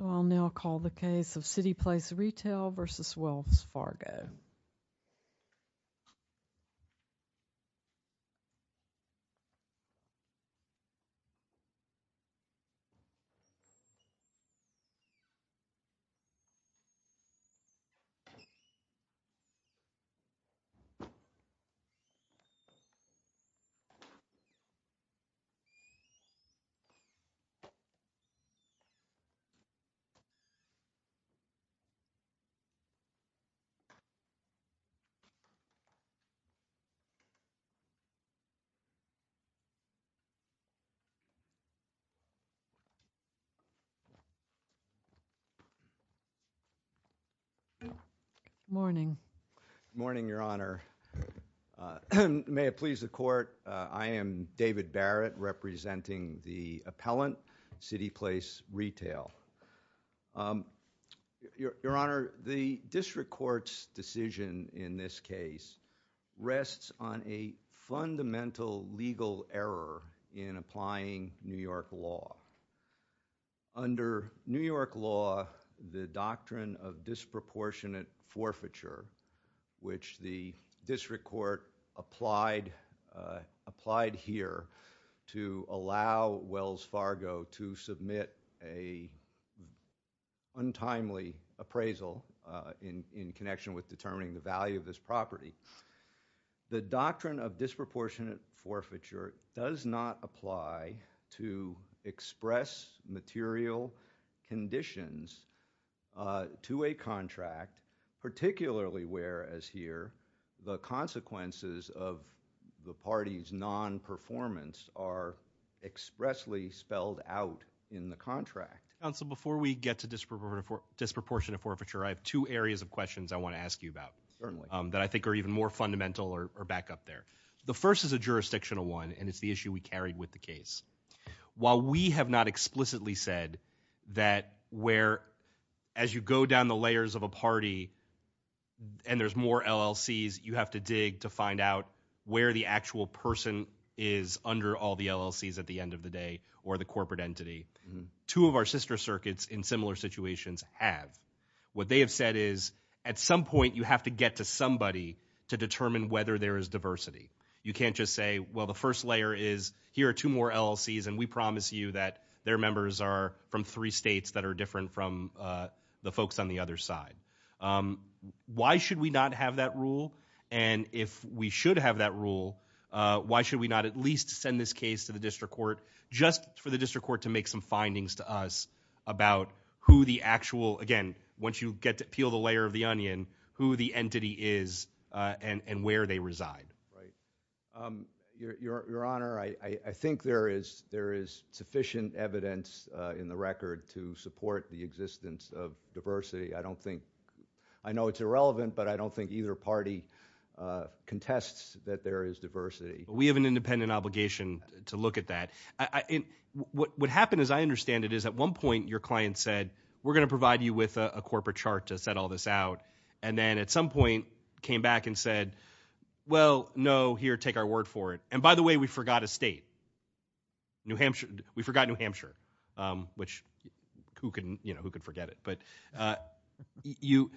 I'll now call the case of CityPlace Retail v. Wells Fargo. I'll now call the case of CityPlace Retail v. Wells Fargo. Good morning, Your Honor. May it please the Court, I am David Barrett representing the appellant, CityPlace Retail. Your Honor, the district court's decision in this case rests on a fundamental legal error in applying New York law. Under New York law, the doctrine of disproportionate forfeiture, which the district court applied here, to allow Wells Fargo to submit an untimely appraisal in connection with determining the value of this property, the doctrine of disproportionate forfeiture does not apply to express material conditions to a contract, particularly where, as here, the consequences of the party's non-performance are expressly spelled out in the contract. Counsel, before we get to disproportionate forfeiture, I have two areas of questions I want to ask you about that I think are even more fundamental or back up there. The first is a jurisdictional one, and it's the issue we carried with the case. While we have not explicitly said that where, as you go down the layers of a party and there's more LLCs, you have to dig to find out where the actual person is under all the LLCs at the end of the day, or the corporate entity, two of our sister circuits in similar situations have. What they have said is, at some point, you have to get to somebody to determine whether there is diversity. You can't just say, well, the first layer is, here are two more LLCs, and we promise you that their members are from three states that are different from the folks on the other side. Why should we not have that rule, and if we should have that rule, why should we not at least send this case to the district court just for the district court to make some findings to us about who the actual, again, once you get to peel the layer of the onion, who the Your Honor, I think there is sufficient evidence in the record to support the existence of diversity. I don't think, I know it's irrelevant, but I don't think either party contests that there is diversity. We have an independent obligation to look at that. What happened, as I understand it, is at one point, your client said, we're going to provide you with a corporate chart to set all this out, and then at some point, came back and said, well, no, here, take our word for it. By the way, we forgot a state. We forgot New Hampshire, which who can forget it?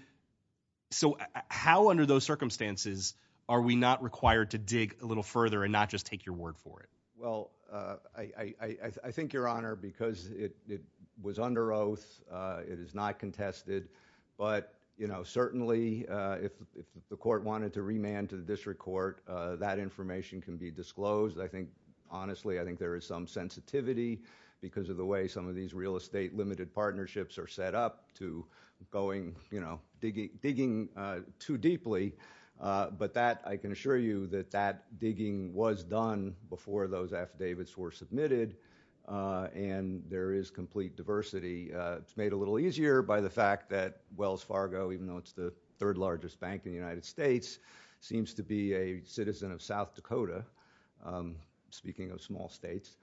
How under those circumstances are we not required to dig a little further and not just take your word for it? I think, Your Honor, because it was under oath, it is not contested, but certainly, if the court wanted to remand to the district court, that information can be disclosed. I think, honestly, I think there is some sensitivity because of the way some of these real estate limited partnerships are set up to going, digging too deeply, but that, I can assure you that that digging was done before those affidavits were submitted, and there is complete diversity. It's made a little easier by the fact that Wells Fargo, even though it's the third largest bank in the United States, seems to be a citizen of South Dakota, speaking of small states,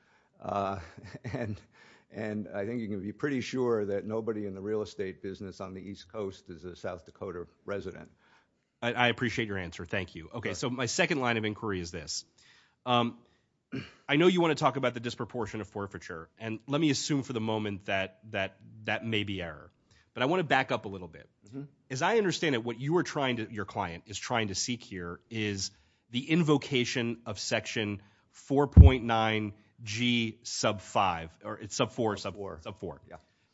and I think you can be pretty sure that nobody in the real estate business on the East Coast is a South Dakota resident. I appreciate your answer. Thank you. Okay, so my second line of inquiry is this. I know you want to talk about the disproportion of forfeiture, and let me assume for the moment that that may be error, but I want to back up a little bit. As I understand it, what you are trying to, your client is trying to seek here is the invocation of section 4.9G sub 5, or it's sub 4, sub 4.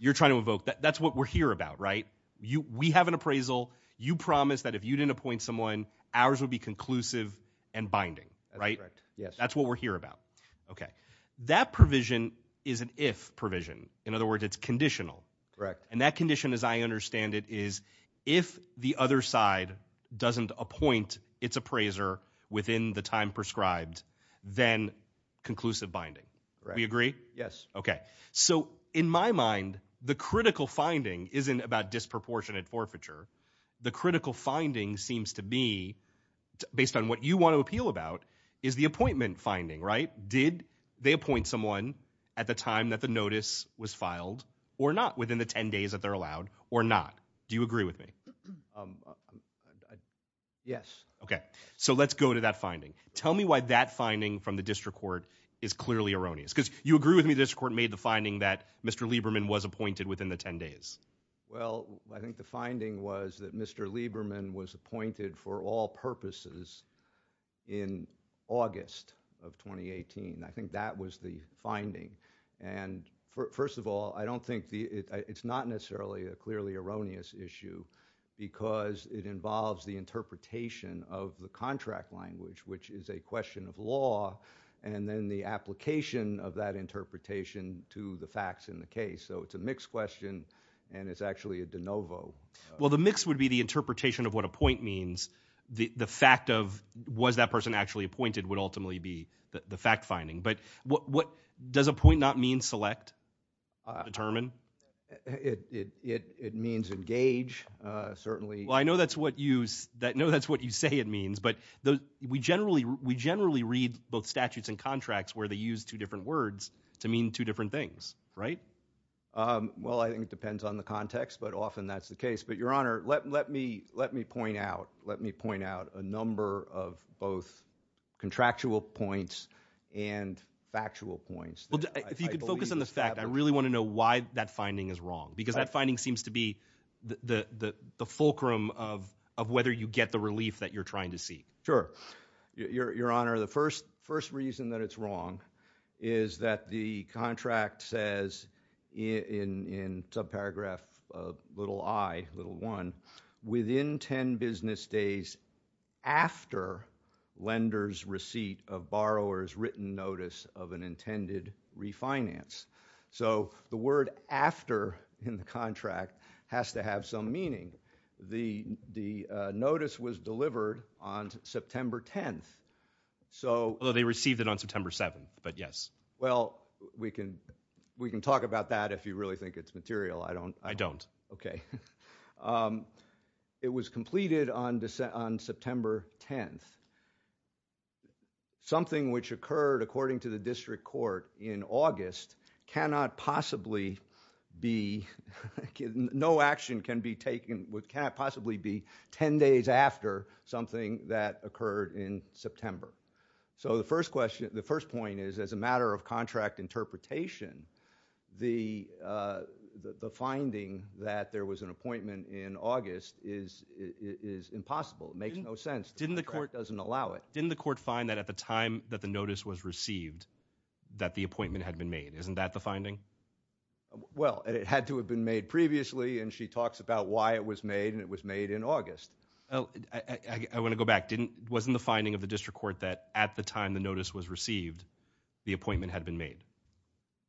You're trying to invoke, that's what we're here about, right? We have an appraisal. You promised that if you didn't appoint someone, ours would be conclusive and binding, right? That's what we're here about. Okay. That provision is an if provision. In other words, it's conditional. Correct. And that condition, as I understand it, is if the other side doesn't appoint its appraiser within the time prescribed, then conclusive binding. Do we agree? Yes. Okay. So in my mind, the critical finding isn't about disproportionate forfeiture. The critical finding seems to be, based on what you want to appeal about, is the appointment finding, right? Did they appoint someone at the time that the notice was filed, or not, within the 10 days that they're allowed, or not? Do you agree with me? Yes. Okay. So let's go to that finding. Tell me why that finding from the district court is clearly erroneous, because you agree with me the district court made the finding that Mr. Lieberman was appointed within the 10 days. Well, I think the finding was that Mr. Lieberman was appointed for all purposes in August of 2018. I think that was the finding. And first of all, I don't think, it's not necessarily a clearly erroneous issue, because it involves the interpretation of the contract language, which is a question of law, and then the application of that interpretation to the facts in the case. So it's a mixed question, and it's actually a de novo. Well, the mix would be the interpretation of what appoint means. The fact of was that person actually appointed would ultimately be the fact finding. But does appoint not mean select, determine? It means engage, certainly. Well, I know that's what you say it means, but we generally read both statutes and contracts where they use two different words to mean two different things, right? Well, I think it depends on the context, but often that's the case. But, Your Honor, let me point out a number of both contractual points and factual points. If you could focus on the fact, I really want to know why that finding is wrong, because that finding seems to be the fulcrum of whether you get the relief that you're trying to see. Sure. Your Honor, the first reason that it's wrong is that the contract says in subparagraph little I, little one, within 10 business days after lender's receipt of borrower's written notice of an intended refinance. So the word after in the contract has to have some meaning. The notice was delivered on September 10th. Although they received it on September 7th, but yes. Well, we can talk about that if you really think it's material. I don't. I don't. Okay. It was completed on September 10th. Something which occurred according to the district court in August cannot possibly be, no action can be taken, cannot possibly be 10 days after something that occurred in September. So the first question, the first point is, as a matter of contract interpretation, the finding that there was an appointment in August is impossible, it makes no sense. The court doesn't allow it. Didn't the court find that at the time that the notice was received that the appointment had been made? Isn't that the finding? Well, it had to have been made previously, and she talks about why it was made, and it was made in August. I want to go back. Wasn't the finding of the district court that at the time the notice was received, the appointment had been made?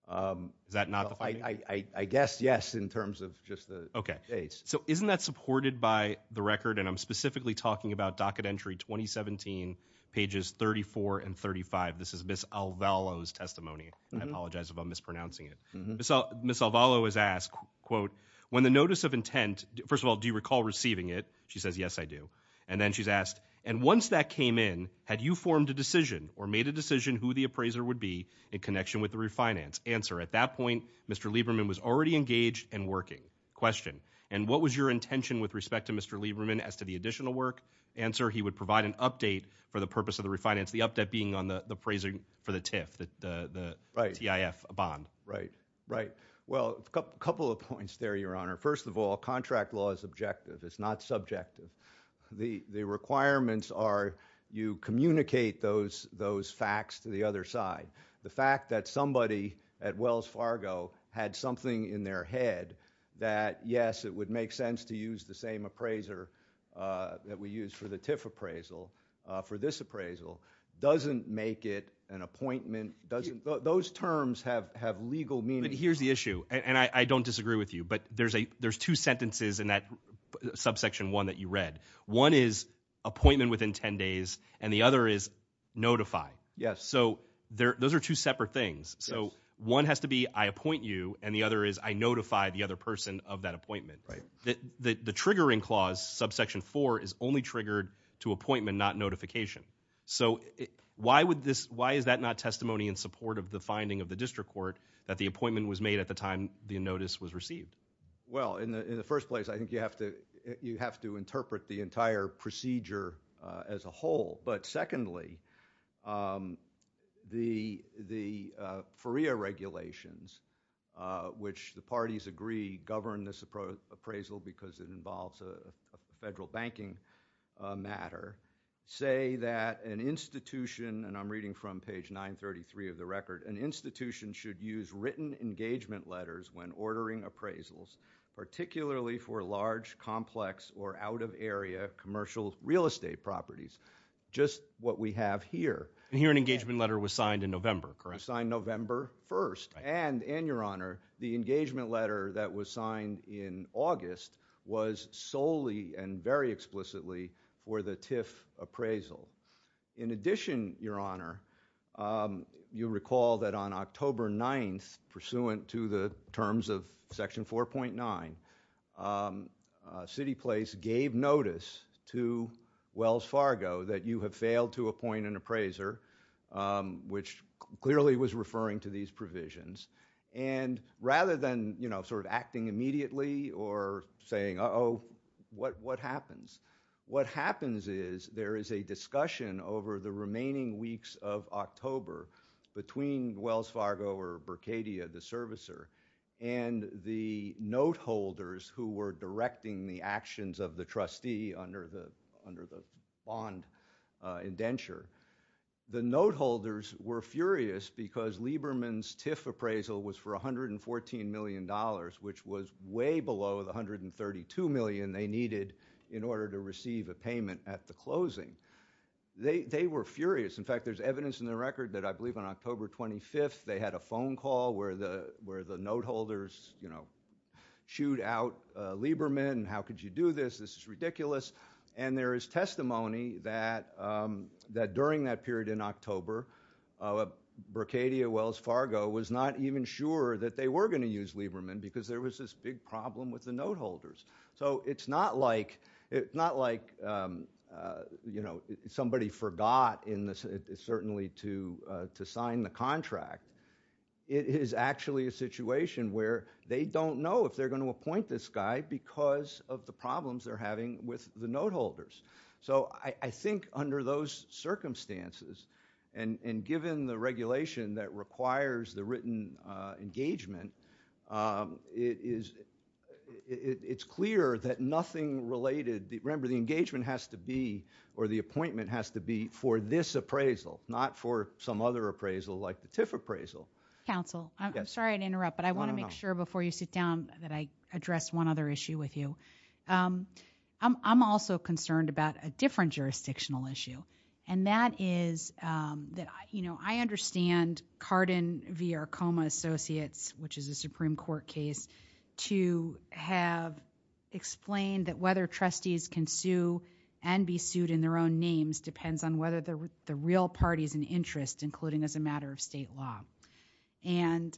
Is that not the finding? I guess, yes, in terms of just the dates. So isn't that supported by the record, and I'm specifically talking about docket entry 2017, pages 34 and 35. This is Ms. Alvalo's testimony. I apologize if I'm mispronouncing it. Ms. Alvalo is asked, quote, when the notice of intent, first of all, do you recall receiving it? She says, yes, I do. And then she's asked, and once that came in, had you formed a decision or made a decision who the appraiser would be in connection with the refinance? Answer, at that point, Mr. Lieberman was already engaged and working. Question, and what was your intention with respect to Mr. Lieberman as to the additional work? Answer, he would provide an update for the purpose of the refinance, the update being on the appraising for the TIF, the T-I-F bond. Right. Right. Well, a couple of points there, Your Honor. First of all, contract law is objective. It's not subjective. The requirements are you communicate those facts to the other side. The fact that somebody at Wells Fargo had something in their head that, yes, it would make sense to use the same appraiser that we used for the TIF appraisal for this appraisal doesn't make it an appointment. Those terms have legal meaning. But here's the issue, and I don't disagree with you. But there's two sentences in that subsection one that you read. One is appointment within 10 days, and the other is notify. Yes. So those are two separate things. So one has to be I appoint you, and the other is I notify the other person of that appointment. The triggering clause, subsection four, is only triggered to appointment, not notification. So why is that not testimony in support of the finding of the district court that the Well, in the first place, I think you have to interpret the entire procedure as a whole. But secondly, the FERIA regulations, which the parties agree govern this appraisal because it involves a federal banking matter, say that an institution, and I'm reading from page 933 of the record, an institution should use written engagement letters when ordering appraisals, particularly for large, complex, or out-of-area commercial real estate properties. Just what we have here. And here an engagement letter was signed in November, correct? Signed November 1st, and your honor, the engagement letter that was signed in August was solely and very explicitly for the TIF appraisal. In addition, your honor, you recall that on October 9th, pursuant to the terms of section 4.9, CityPlace gave notice to Wells Fargo that you have failed to appoint an appraiser, which clearly was referring to these provisions. And rather than, you know, sort of acting immediately or saying, uh-oh, what happens? What happens is there is a discussion over the remaining weeks of October between Wells Fargo or Berkadia, the servicer, and the note holders who were directing the actions of the trustee under the bond indenture. The note holders were furious because Lieberman's TIF appraisal was for $114 million, which was way below the $132 million they needed in order to receive a payment at the closing. They were furious. In fact, there's evidence in the record that I believe on October 25th, they had a phone call where the note holders, you know, chewed out Lieberman, and how could you do this? This is ridiculous. And there is testimony that during that period in October, Berkadia, Wells Fargo was not even sure that they were going to use Lieberman because there was this big problem with the note holders. So it's not like, you know, somebody forgot certainly to sign the contract. It is actually a situation where they don't know if they're going to appoint this guy because of the problems they're having with the note holders. So I think under those circumstances, and given the regulation that requires the written engagement, it's clear that nothing related, remember, the engagement has to be or the appointment has to be for this appraisal, not for some other appraisal like the TIF appraisal. Counsel, I'm sorry to interrupt, but I want to make sure before you sit down that I address one other issue with you. I'm also concerned about a different jurisdictional issue, and that is that, you know, I understand Cardin v. Arcoma Associates, which is a Supreme Court case, to have explained that whether trustees can sue and be sued in their own names depends on whether the real party is in interest, including as a matter of state law. And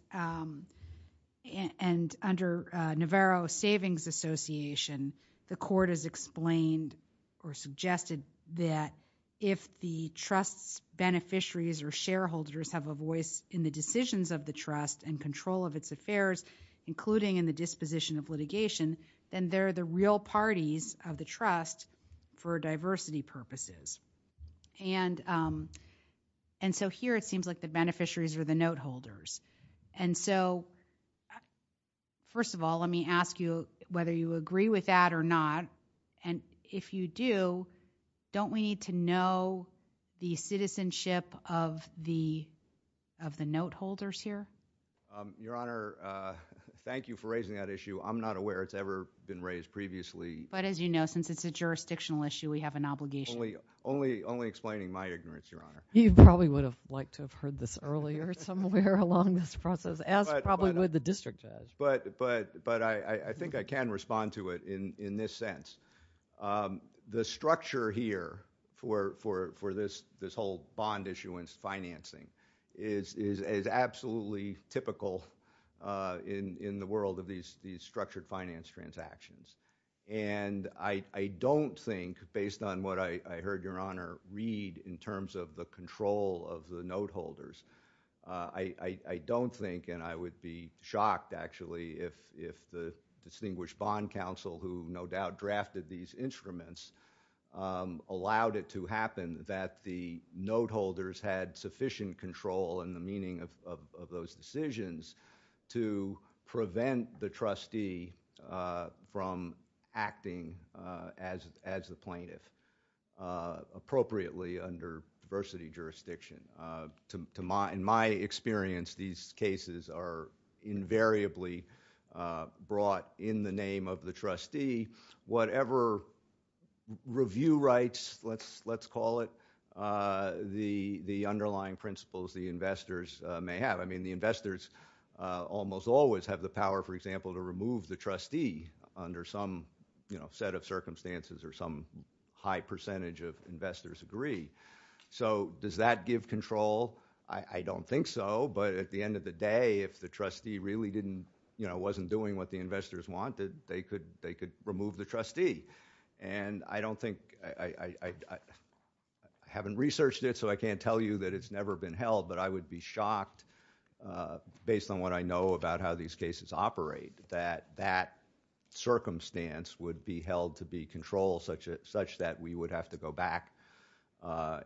under Navarro Savings Association, the court has explained or suggested that if the trust's beneficiaries or shareholders have a voice in the decisions of the trust and control of its affairs, including in the disposition of litigation, then they're the real parties of the trust for diversity purposes. And so here it seems like the beneficiaries are the note holders. And so, first of all, let me ask you whether you agree with that or not. And if you do, don't we need to know the citizenship of the note holders here? Your Honor, thank you for raising that issue. I'm not aware it's ever been raised previously. But as you know, since it's a jurisdictional issue, we have an obligation. Only explaining my ignorance, Your Honor. You probably would have liked to have heard this earlier somewhere along this process, as probably would the district judge. But I think I can respond to it in this sense. The structure here for this whole bond issuance financing is absolutely typical in the world of these structured finance transactions. And I don't think, based on what I heard Your Honor read in terms of the control of the note holders, I don't think, and I would be shocked, actually, if the distinguished bond counsel, who no doubt drafted these instruments, allowed it to happen that the note holders had sufficient control in the meaning of those decisions to prevent the trustee from acting as the plaintiff appropriately under diversity jurisdiction. In my experience, these cases are invariably brought in the name of the trustee. Whatever review rights, let's call it, the underlying principles the investors may have. I mean, the investors almost always have the power, for example, to remove the trustee under some set of circumstances or some high percentage of investors agree. So does that give control? I don't think so. But at the end of the day, if the trustee really wasn't doing what the investors wanted, they could remove the trustee. And I don't think, I haven't researched it, so I can't tell you that it's never been held. But I would be shocked, based on what I know about how these cases operate, that that circumstance would be held to be controlled such that we would have to go back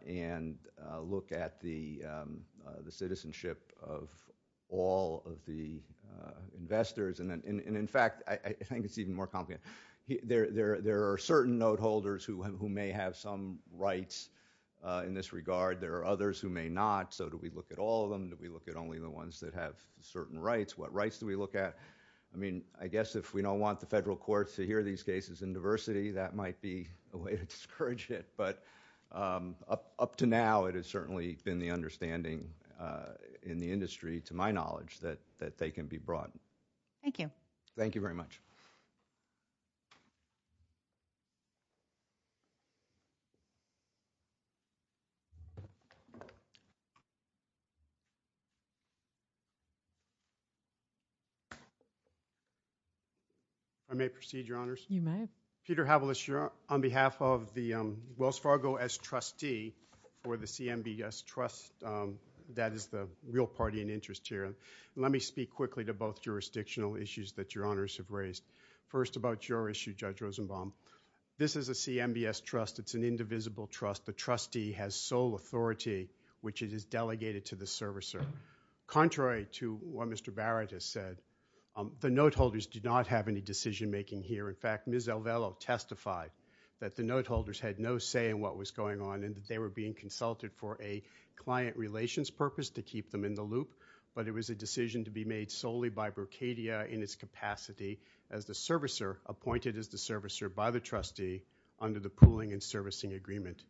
and look at the citizenship of all of the investors. And in fact, I think it's even more complicated. There are certain note holders who may have some rights in this regard. There are others who may not. So do we look at all of them? Do we look at only the ones that have certain rights? What rights do we look at? I mean, I guess if we don't want the federal courts to hear these cases in diversity, that might be a way to discourage it. But up to now, it has certainly been the understanding in the industry, to my knowledge, that they can be brought. Thank you. Thank you very much. I may proceed, Your Honors. You may. Peter Havlis, you're on behalf of the Wells Fargo as trustee, or the CMBS trust, that is the real party in interest here. Let me speak quickly to both jurisdictional issues that Your Honors have raised. First about your issue, Judge Rosenbaum. This is a CMBS trust. It's an indivisible trust. The trustee has sole authority, which is delegated to the servicer. Contrary to what Mr. Barrett has said, the note holders do not have any decision making here. In fact, Ms. Alvelo testified that the note holders had no say in what was going on and that they were being consulted for a client relations purpose to keep them in the loop. But it was a decision to be made solely by Brocadia in its capacity as the servicer, appointed as the servicer by the trustee under the pooling and servicing agreement.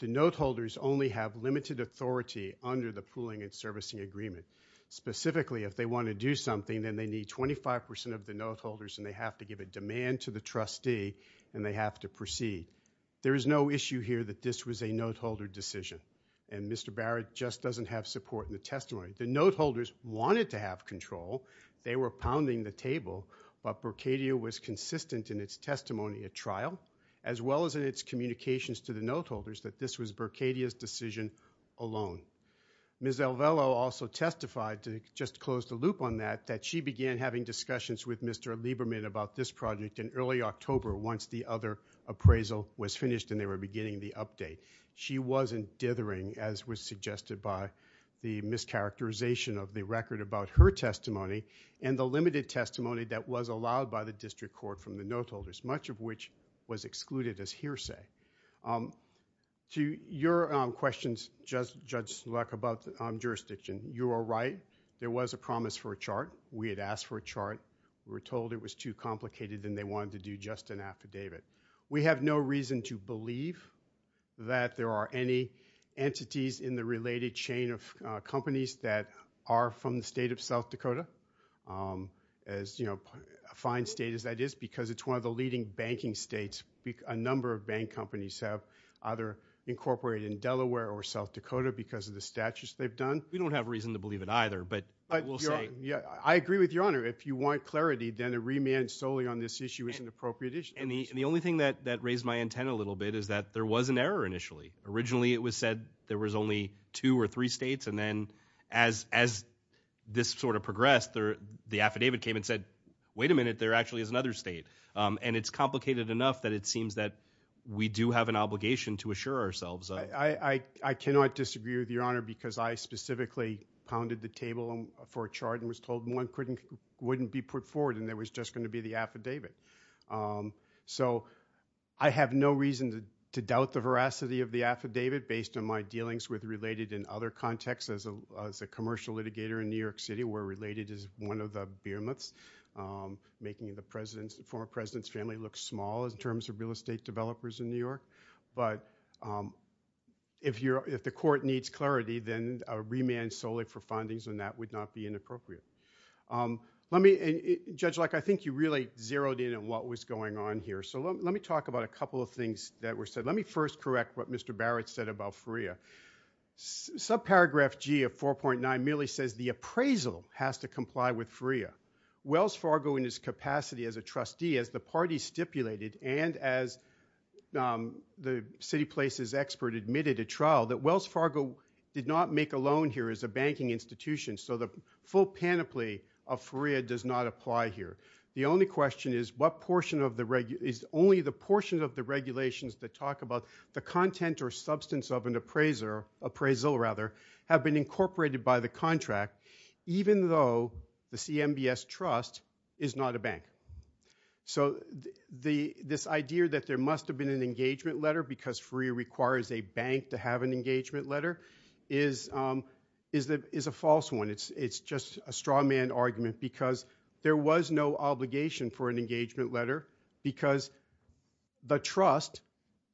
The note holders only have limited authority under the pooling and servicing agreement. Specifically, if they want to do something, then they need 25% of the note holders and they have to give a demand to the trustee and they have to proceed. There is no issue here that this was a note holder decision. And Mr. Barrett just doesn't have support in the testimony. The note holders wanted to have control. They were pounding the table, but Brocadia was consistent in its testimony at trial, as well as in its communications to the note holders that this was Brocadia's decision alone. Ms. Alvelo also testified, to just close the loop on that, that she began having discussions with Mr. Lieberman about this project in early October, once the other appraisal was finished and they were beginning the update. She wasn't dithering, as was suggested by the mischaracterization of the record about her testimony and the limited testimony that was allowed by the district court from the note holders, much of which was excluded as hearsay. Your questions, Judge Sulek, about jurisdiction, you are right. There was a promise for a chart. We had asked for a chart. We were told it was too complicated and they wanted to do just an affidavit. We have no reason to believe that there are any entities in the related chain of companies that are from the state of South Dakota, as fine state as that is, because it's one of the leading banking states. A number of bank companies have either incorporated in Delaware or South Dakota because of the statutes they've done. We don't have a reason to believe it either, but we'll say. I agree with Your Honor. If you want clarity, then a remand solely on this issue is an appropriate issue. And the only thing that raised my antenna a little bit is that there was an error initially. Originally it was said there was only two or three states, and then as this sort of progressed, the affidavit came and said, wait a minute, there actually is another state. And it's complicated enough that it seems that we do have an obligation to assure ourselves of it. I cannot disagree with Your Honor because I specifically pounded the table for a chart and was told one wouldn't be put forward and there was just going to be the affidavit. So I have no reason to doubt the veracity of the affidavit based on my dealings with related and other contexts as a commercial litigator in New York City where related is one of the behemoths, making the former president's family look small in terms of real estate developers in New York. But if the court needs clarity, then a remand solely for findings on that would not be inappropriate. Judge Locke, I think you really zeroed in on what was going on here. So let me talk about a couple of things that were said. Let me first correct what Mr. Barrett said about FREA. Subparagraph G of 4.9 merely says the appraisal has to comply with FREA. Wells Fargo in its capacity as a trustee, as the party stipulated, and as the City Places expert admitted at trial, that Wells Fargo did not make a loan here as a banking institution. So the full panoply of FREA does not apply here. The only question is, is only the portion of the regulations that talk about the content or substance of an appraisal have been incorporated by the contract, even though the CMBS trust is not a bank? So this idea that there must have been an engagement letter because FREA requires a bank to have an engagement letter is a false one. It's just a straw man argument because there was no obligation for an engagement letter because the trust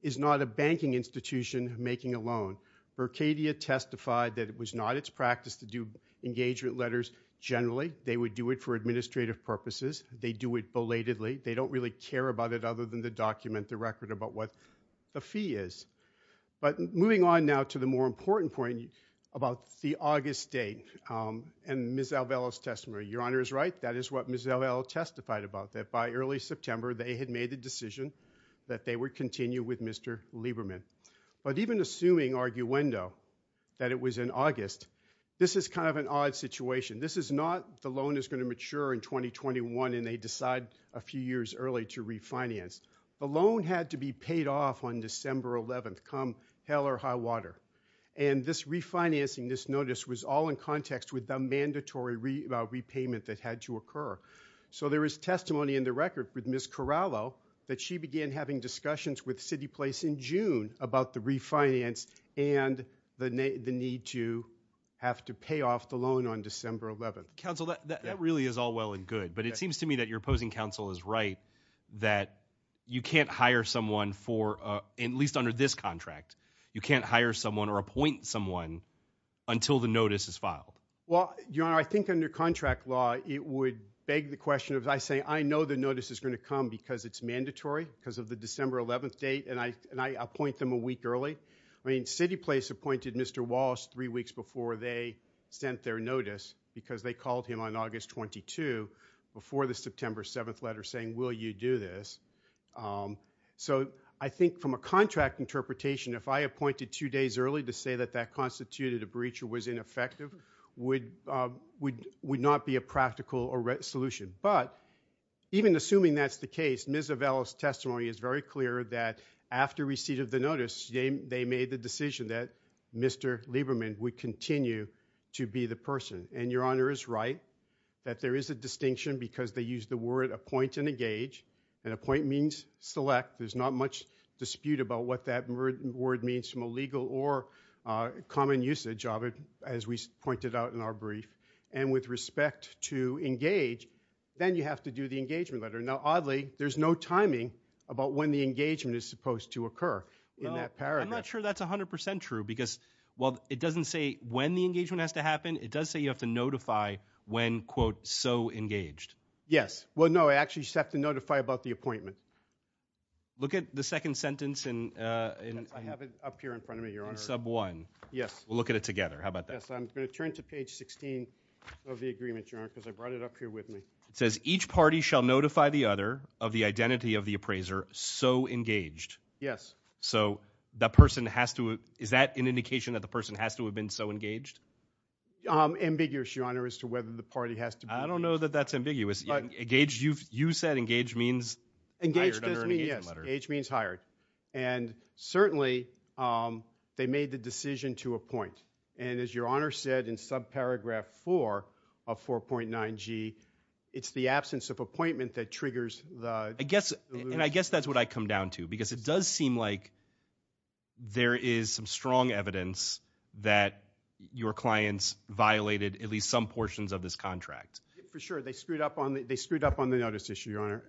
is not a banking institution making a loan. Mercadia testified that it was not its practice to do engagement letters generally. They would do it for administrative purposes. They do it belatedly. They don't really care about it other than the document, the record about what the fee is. But moving on now to the more important point about the August date and Ms. Alvelo's testimony. Your Honor is right. That is what Ms. Alvelo testified about, that by early September they had made the decision that they would continue with Mr. Lieberman. But even assuming arguendo that it was in August, this is kind of an odd situation. This is not the loan is going to mature in 2021 and they decide a few years early to refinance. The loan had to be paid off on December 11th, come hell or high water. And this refinancing, this notice was all in context with the mandatory repayment that had to occur. So there is testimony in the record with Ms. Corallo that she began having discussions with CityPlace in June about the refinance and the need to have to pay off the loan on December 11th. Counsel, that really is all well and good, but it seems to me that your opposing counsel is right that you can't hire someone for, at least under this contract, you can't hire someone or appoint someone until the notice is filed. Well, Your Honor, I think under contract law, it would beg the question of, I say, I know the notice is going to come because it's mandatory because of the December 11th date and I appoint them a week early. I mean, CityPlace appointed Mr. Wallace three weeks before they sent their notice because they called him on August 22 before the September 7th letter saying, will you do this? So I think from a contract interpretation, if I appointed two days early to say that that constituted a breach or was ineffective, would not be a practical solution. But even assuming that's the case, Ms. Avella's testimony is very clear that after receipt of the notice, they made the decision that Mr. Lieberman would continue to be the person. And Your Honor is right that there is a distinction because they used the word appoint and engage. And appoint means select. There's not much dispute about what that word means from a legal or common usage, as we pointed out in our brief. And with respect to engage, then you have to do the engagement letter. Now, oddly, there's no timing about when the engagement is supposed to occur in that paragraph. I'm not sure that's 100% true because while it doesn't say when the engagement has to happen, it does say you have to notify when, quote, so engaged. Yes. Well, no, I actually just have to notify about the appointment. Look at the second sentence and I have it up here in front of me, Your Honor. Sub one. Yes. We'll look at it together. How about that? I'm going to turn to page 16 of the agreement, Your Honor, because I brought it up here with me. It says, each party shall notify the other of the identity of the appraiser so engaged. Yes. So that person has to, is that an indication that the person has to have been so engaged? Ambiguous, Your Honor, as to whether the party has to be engaged. I don't know that that's ambiguous. You said engage means hired under an engagement letter. Engaged does mean, yes. Engage means hired. And certainly, they made the decision to appoint. And as Your Honor said in subparagraph four of 4.9G, it's the absence of appointment that triggers the delusion. And I guess that's what I come down to, because it does seem like there is some strong evidence that your clients violated at least some portions of this contract. For sure. They screwed up on the notice issue, Your Honor.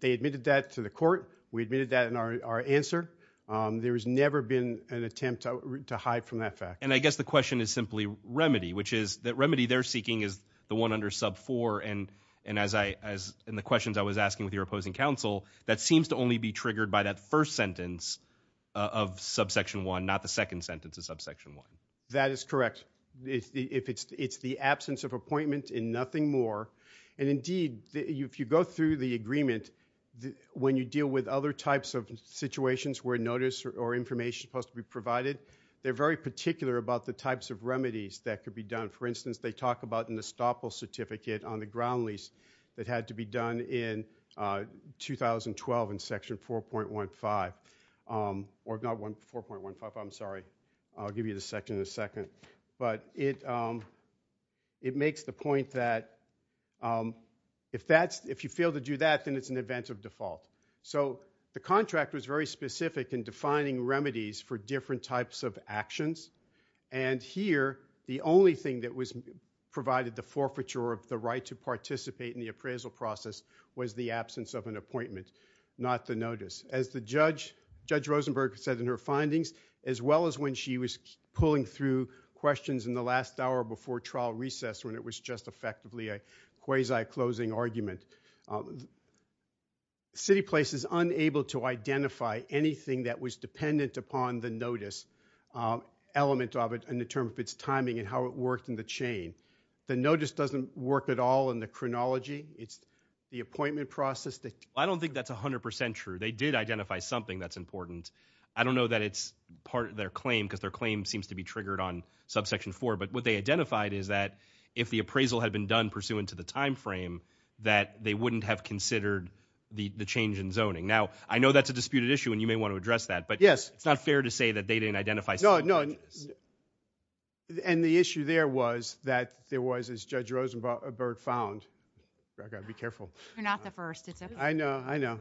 They admitted that to the court. We admitted that in our answer. There has never been an attempt to hide from that fact. And I guess the question is simply remedy, which is that remedy they're seeking is the one under sub four. And as I, in the questions I was asking with your opposing counsel, that seems to only be triggered by that first sentence of subsection one, not the second sentence of subsection one. That is correct. It's the absence of appointment and nothing more. And indeed, if you go through the agreement, when you deal with other types of situations where notice or information is supposed to be provided, they're very particular about the types of remedies that could be done. For instance, they talk about an estoppel certificate on the ground lease that had to be done in 2012 in section 4.15. Or not 4.15, I'm sorry. I'll give you the section in a second. But it makes the point that if you fail to do that, then it's an event of default. So the contract was very specific in defining remedies for different types of actions. And here, the only thing that provided the forfeiture of the right to participate in the appraisal process was the absence of an appointment, not the notice. As Judge Rosenberg said in her findings, as well as when she was pulling through questions in the last hour before trial recess, when it was just effectively a quasi-closing argument, CityPlace is unable to identify anything that was dependent upon the notice element of it in terms of its timing and how it worked in the chain. The notice doesn't work at all in the chronology. It's the appointment process. I don't think that's 100% true. They did identify something that's important. I don't know that it's part of their claim, because their claim seems to be triggered on subsection 4, but what they identified is that if the appraisal had been done pursuant to the time frame, that they wouldn't have considered the change in zoning. Now, I know that's a disputed issue, and you may want to address that, but it's not fair to say that they didn't identify some of the issues. And the issue there was that there was, as Judge Rosenberg found, I've got to be careful. You're not the first. It's okay. I know. I know.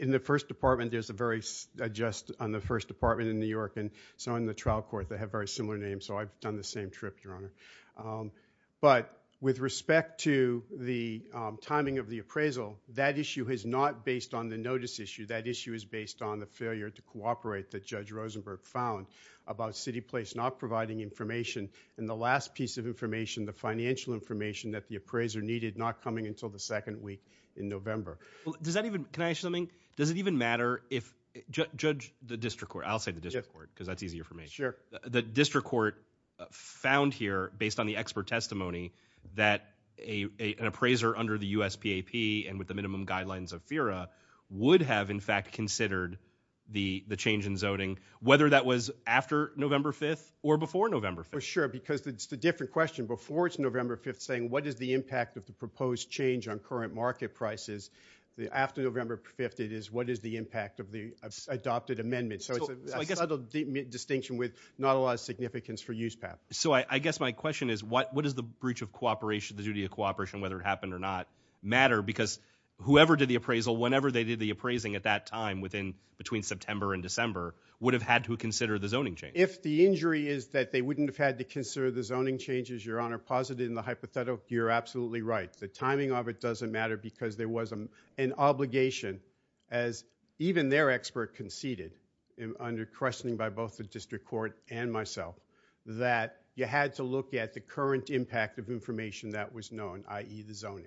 In the first department, there's a very, just on the first department in New York and so forth, they have very similar names, so I've done the same trip, Your Honor. But with respect to the timing of the appraisal, that issue is not based on the notice issue. That issue is based on the failure to cooperate that Judge Rosenberg found about CityPlace not providing information, and the last piece of information, the financial information that the appraiser needed not coming until the second week in November. Well, does that even, can I ask you something? Does it even matter if, Judge, the district court, I'll say the district court, because that's easier for me. Sure. The district court found here, based on the expert testimony, that an appraiser under the USPAP and with the minimum guidelines of FERA would have, in fact, considered the change in zoning, whether that was after November 5th or before November 5th. Well, sure, because it's a different question. Before it's November 5th saying what is the impact of the proposed change on current market prices, after November 5th it is what is the impact of the adopted amendment. So it's a subtle distinction with not a lot of significance for USPAP. So I guess my question is, what does the breach of cooperation, the duty of cooperation, whether it happened or not, matter? Because whoever did the appraisal, whenever they did the appraising at that time within, between September and December, would have had to consider the zoning change. If the injury is that they wouldn't have had to consider the zoning changes, Your Honor, posited in the hypothetical, you're absolutely right. The timing of it doesn't matter because there was an obligation, as even their expert conceded, under questioning by both the district court and myself, that you had to look at the current impact of information that was known, i.e., the zoning.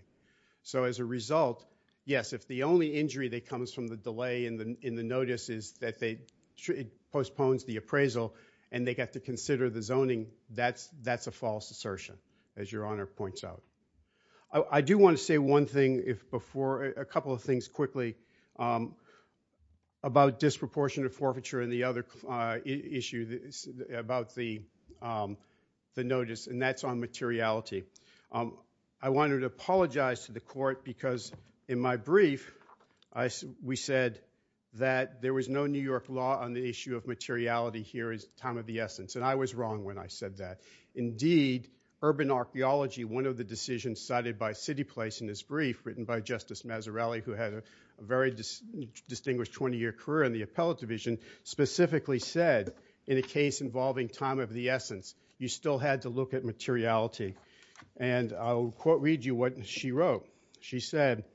So as a result, yes, if the only injury that comes from the delay in the, in the notice is that they, it postpones the appraisal and they get to consider the zoning, that's, that's a false assertion, as Your Honor points out. I do want to say one thing before, a couple of things quickly about disproportionate forfeiture and the other issue about the, the notice, and that's on materiality. I wanted to apologize to the court because in my brief, I, we said that there was no New York law on the issue of materiality here as time of the essence, and I was wrong when I said that. Indeed, urban archeology, one of the decisions cited by CityPlace in this brief, written by Justice Mazzarelli, who had a very distinguished 20-year career in the appellate division, specifically said in a case involving time of the essence, you still had to look at materiality. And I'll quote read you what she wrote. She said,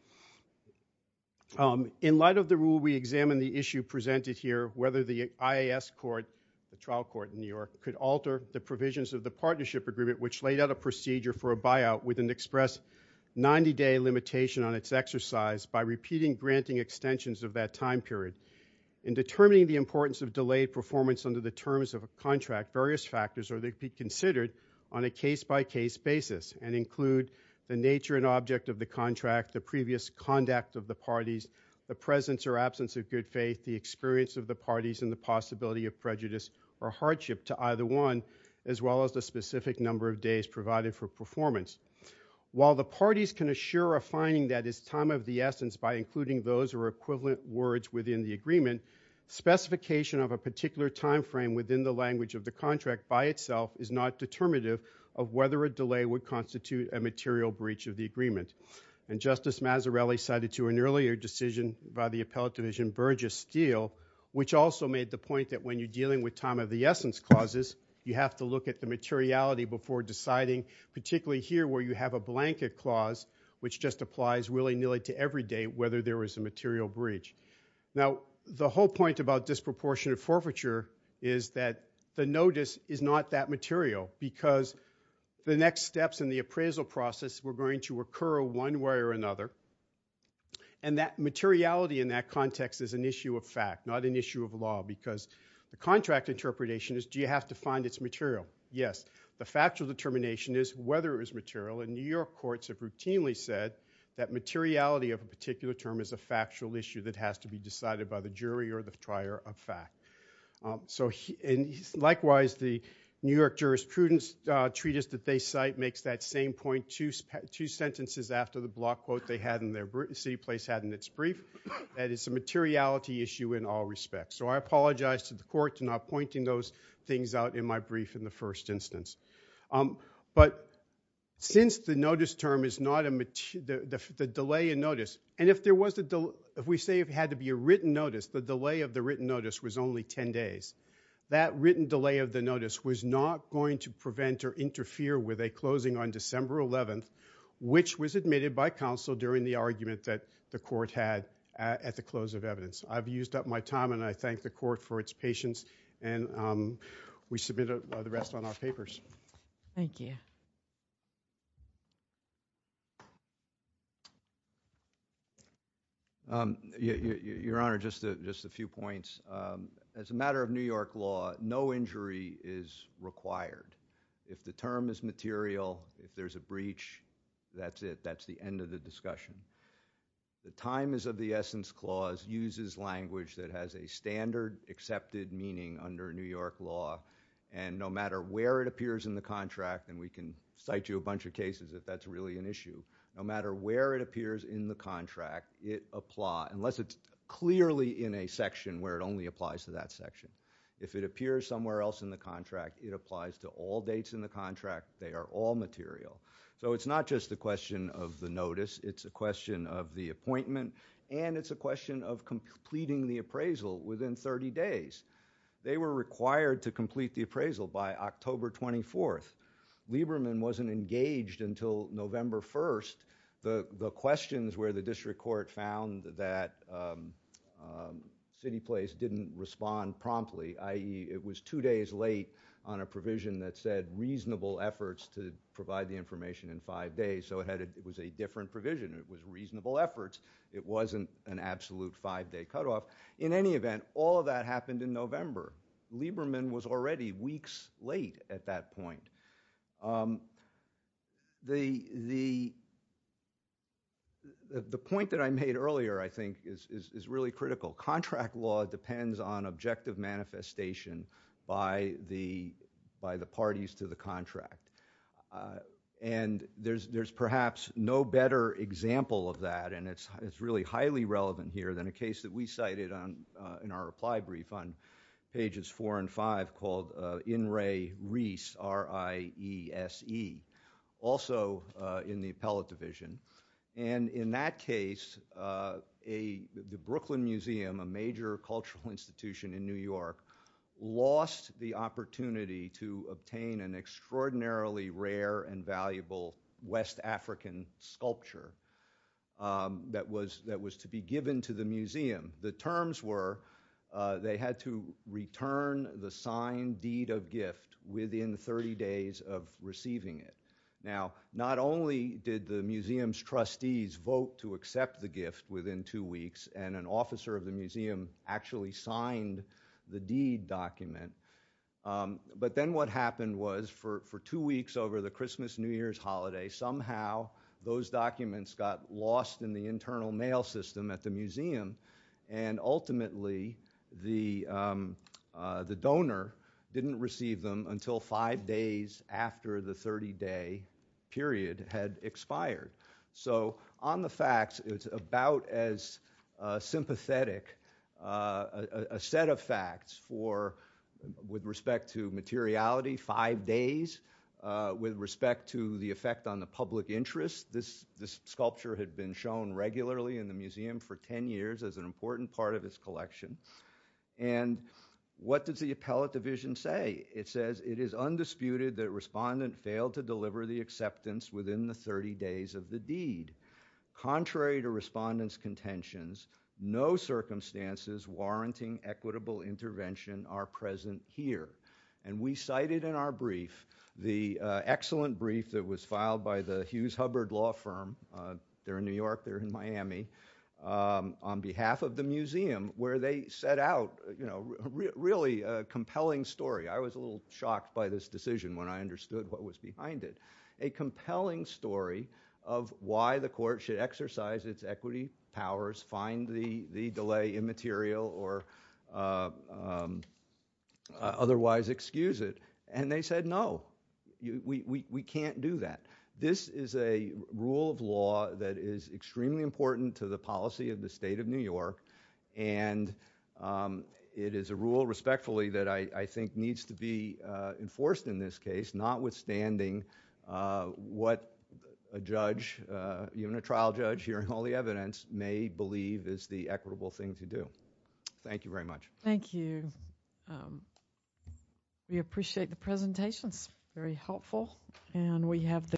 in light of the rule, we examine the issue presented here, whether the IAS court, the trial court in New York, could alter the provisions of the partnership agreement, which laid out a procedure for a buyout with an express 90-day limitation on its exercise by repeating granting extensions of that time period. In determining the importance of delayed performance under the terms of a contract, various factors are to be considered on a case-by-case basis and include the nature and object of the contract, the previous conduct of the parties, the presence or absence of a period of faith, the experience of the parties, and the possibility of prejudice or hardship to either one, as well as the specific number of days provided for performance. While the parties can assure a finding that is time of the essence by including those or equivalent words within the agreement, specification of a particular time frame within the language of the contract by itself is not determinative of whether a delay would constitute a material breach of the agreement. And Justice Mazzarelli cited to an earlier decision by the appellate division Burgess Steele, which also made the point that when you're dealing with time of the essence clauses, you have to look at the materiality before deciding, particularly here where you have a blanket clause, which just applies willy-nilly to every day whether there was a material breach. Now, the whole point about disproportionate forfeiture is that the notice is not that one way or another, and that materiality in that context is an issue of fact, not an issue of law, because the contract interpretation is do you have to find its material? Yes. The factual determination is whether it was material, and New York courts have routinely said that materiality of a particular term is a factual issue that has to be decided by the jury or the trier of fact. Likewise, the New York jurisprudence treatise that they cite makes that same point two sentences after the block quote they had in their city place had in its brief, that it's a materiality issue in all respects. So I apologize to the court to not pointing those things out in my brief in the first instance. But since the notice term is not a material, the delay in notice, and if there was a, if we say it had to be a written notice, the delay of the written notice was only 10 days. That written delay of the notice was not going to prevent or interfere with a closing on which was admitted by counsel during the argument that the court had at the close of evidence. I've used up my time, and I thank the court for its patience, and we submit the rest on our papers. Thank you. Your Honor, just a few points. As a matter of New York law, no injury is required. If the term is material, if there's a breach, that's it. That's the end of the discussion. The time is of the essence clause uses language that has a standard accepted meaning under New York law, and no matter where it appears in the contract, and we can cite you a bunch of cases if that's really an issue, no matter where it appears in the contract, it applies, unless it's clearly in a section where it only applies to that section. If it appears somewhere else in the contract, it applies to all dates in the contract. They are all material. So it's not just a question of the notice. It's a question of the appointment, and it's a question of completing the appraisal within 30 days. They were required to complete the appraisal by October 24th. Lieberman wasn't engaged until November 1st. The questions where the district court found that CityPlace didn't respond promptly, i.e. it was two days late on a provision that said reasonable efforts to provide the information in five days, so it was a different provision. It was reasonable efforts. It wasn't an absolute five-day cutoff. In any event, all of that happened in November. Lieberman was already weeks late at that point. The point that I made earlier, I think, is really critical. Contract law depends on objective manifestation by the parties to the contract, and there's perhaps no better example of that, and it's really highly relevant here than a case that we cited in our reply brief on pages four and five called In Re Reese, R-I-E-S-E, also in the appellate division. In that case, the Brooklyn Museum, a major cultural institution in New York, lost the opportunity to obtain an extraordinarily rare and valuable West African sculpture that was to be given to the museum. The terms were they had to return the signed deed of gift within 30 days of receiving it. Now, not only did the museum's trustees vote to accept the gift within two weeks, and an officer of the museum actually signed the deed document, but then what happened was for two weeks over the Christmas, New Year's holiday, somehow those documents got lost in the internal mail system at the museum, and ultimately the donor didn't receive them until five days after the 30-day period had expired. On the facts, it's about as sympathetic a set of facts with respect to materiality, five days, with respect to the effect on the public interest. This sculpture had been shown regularly in the museum for 10 years as an important part of its collection, and what does the appellate division say? It says, it is undisputed that respondent failed to deliver the acceptance within the 30 days of the deed. Contrary to respondent's contentions, no circumstances warranting equitable intervention are present here, and we cited in our brief the excellent brief that was filed by the Mrs. Hubbard law firm, they're in New York, they're in Miami, on behalf of the museum, where they set out a really compelling story. I was a little shocked by this decision when I understood what was behind it. A compelling story of why the court should exercise its equity powers, find the delay immaterial, or otherwise excuse it, and they said, no, we can't do that. This is a rule of law that is extremely important to the policy of the state of New York, and it is a rule, respectfully, that I think needs to be enforced in this case, notwithstanding what a judge, even a trial judge, hearing all the evidence, may believe is the equitable thing to do. Thank you very much. Thank you. We appreciate the presentations. Very helpful. And we have the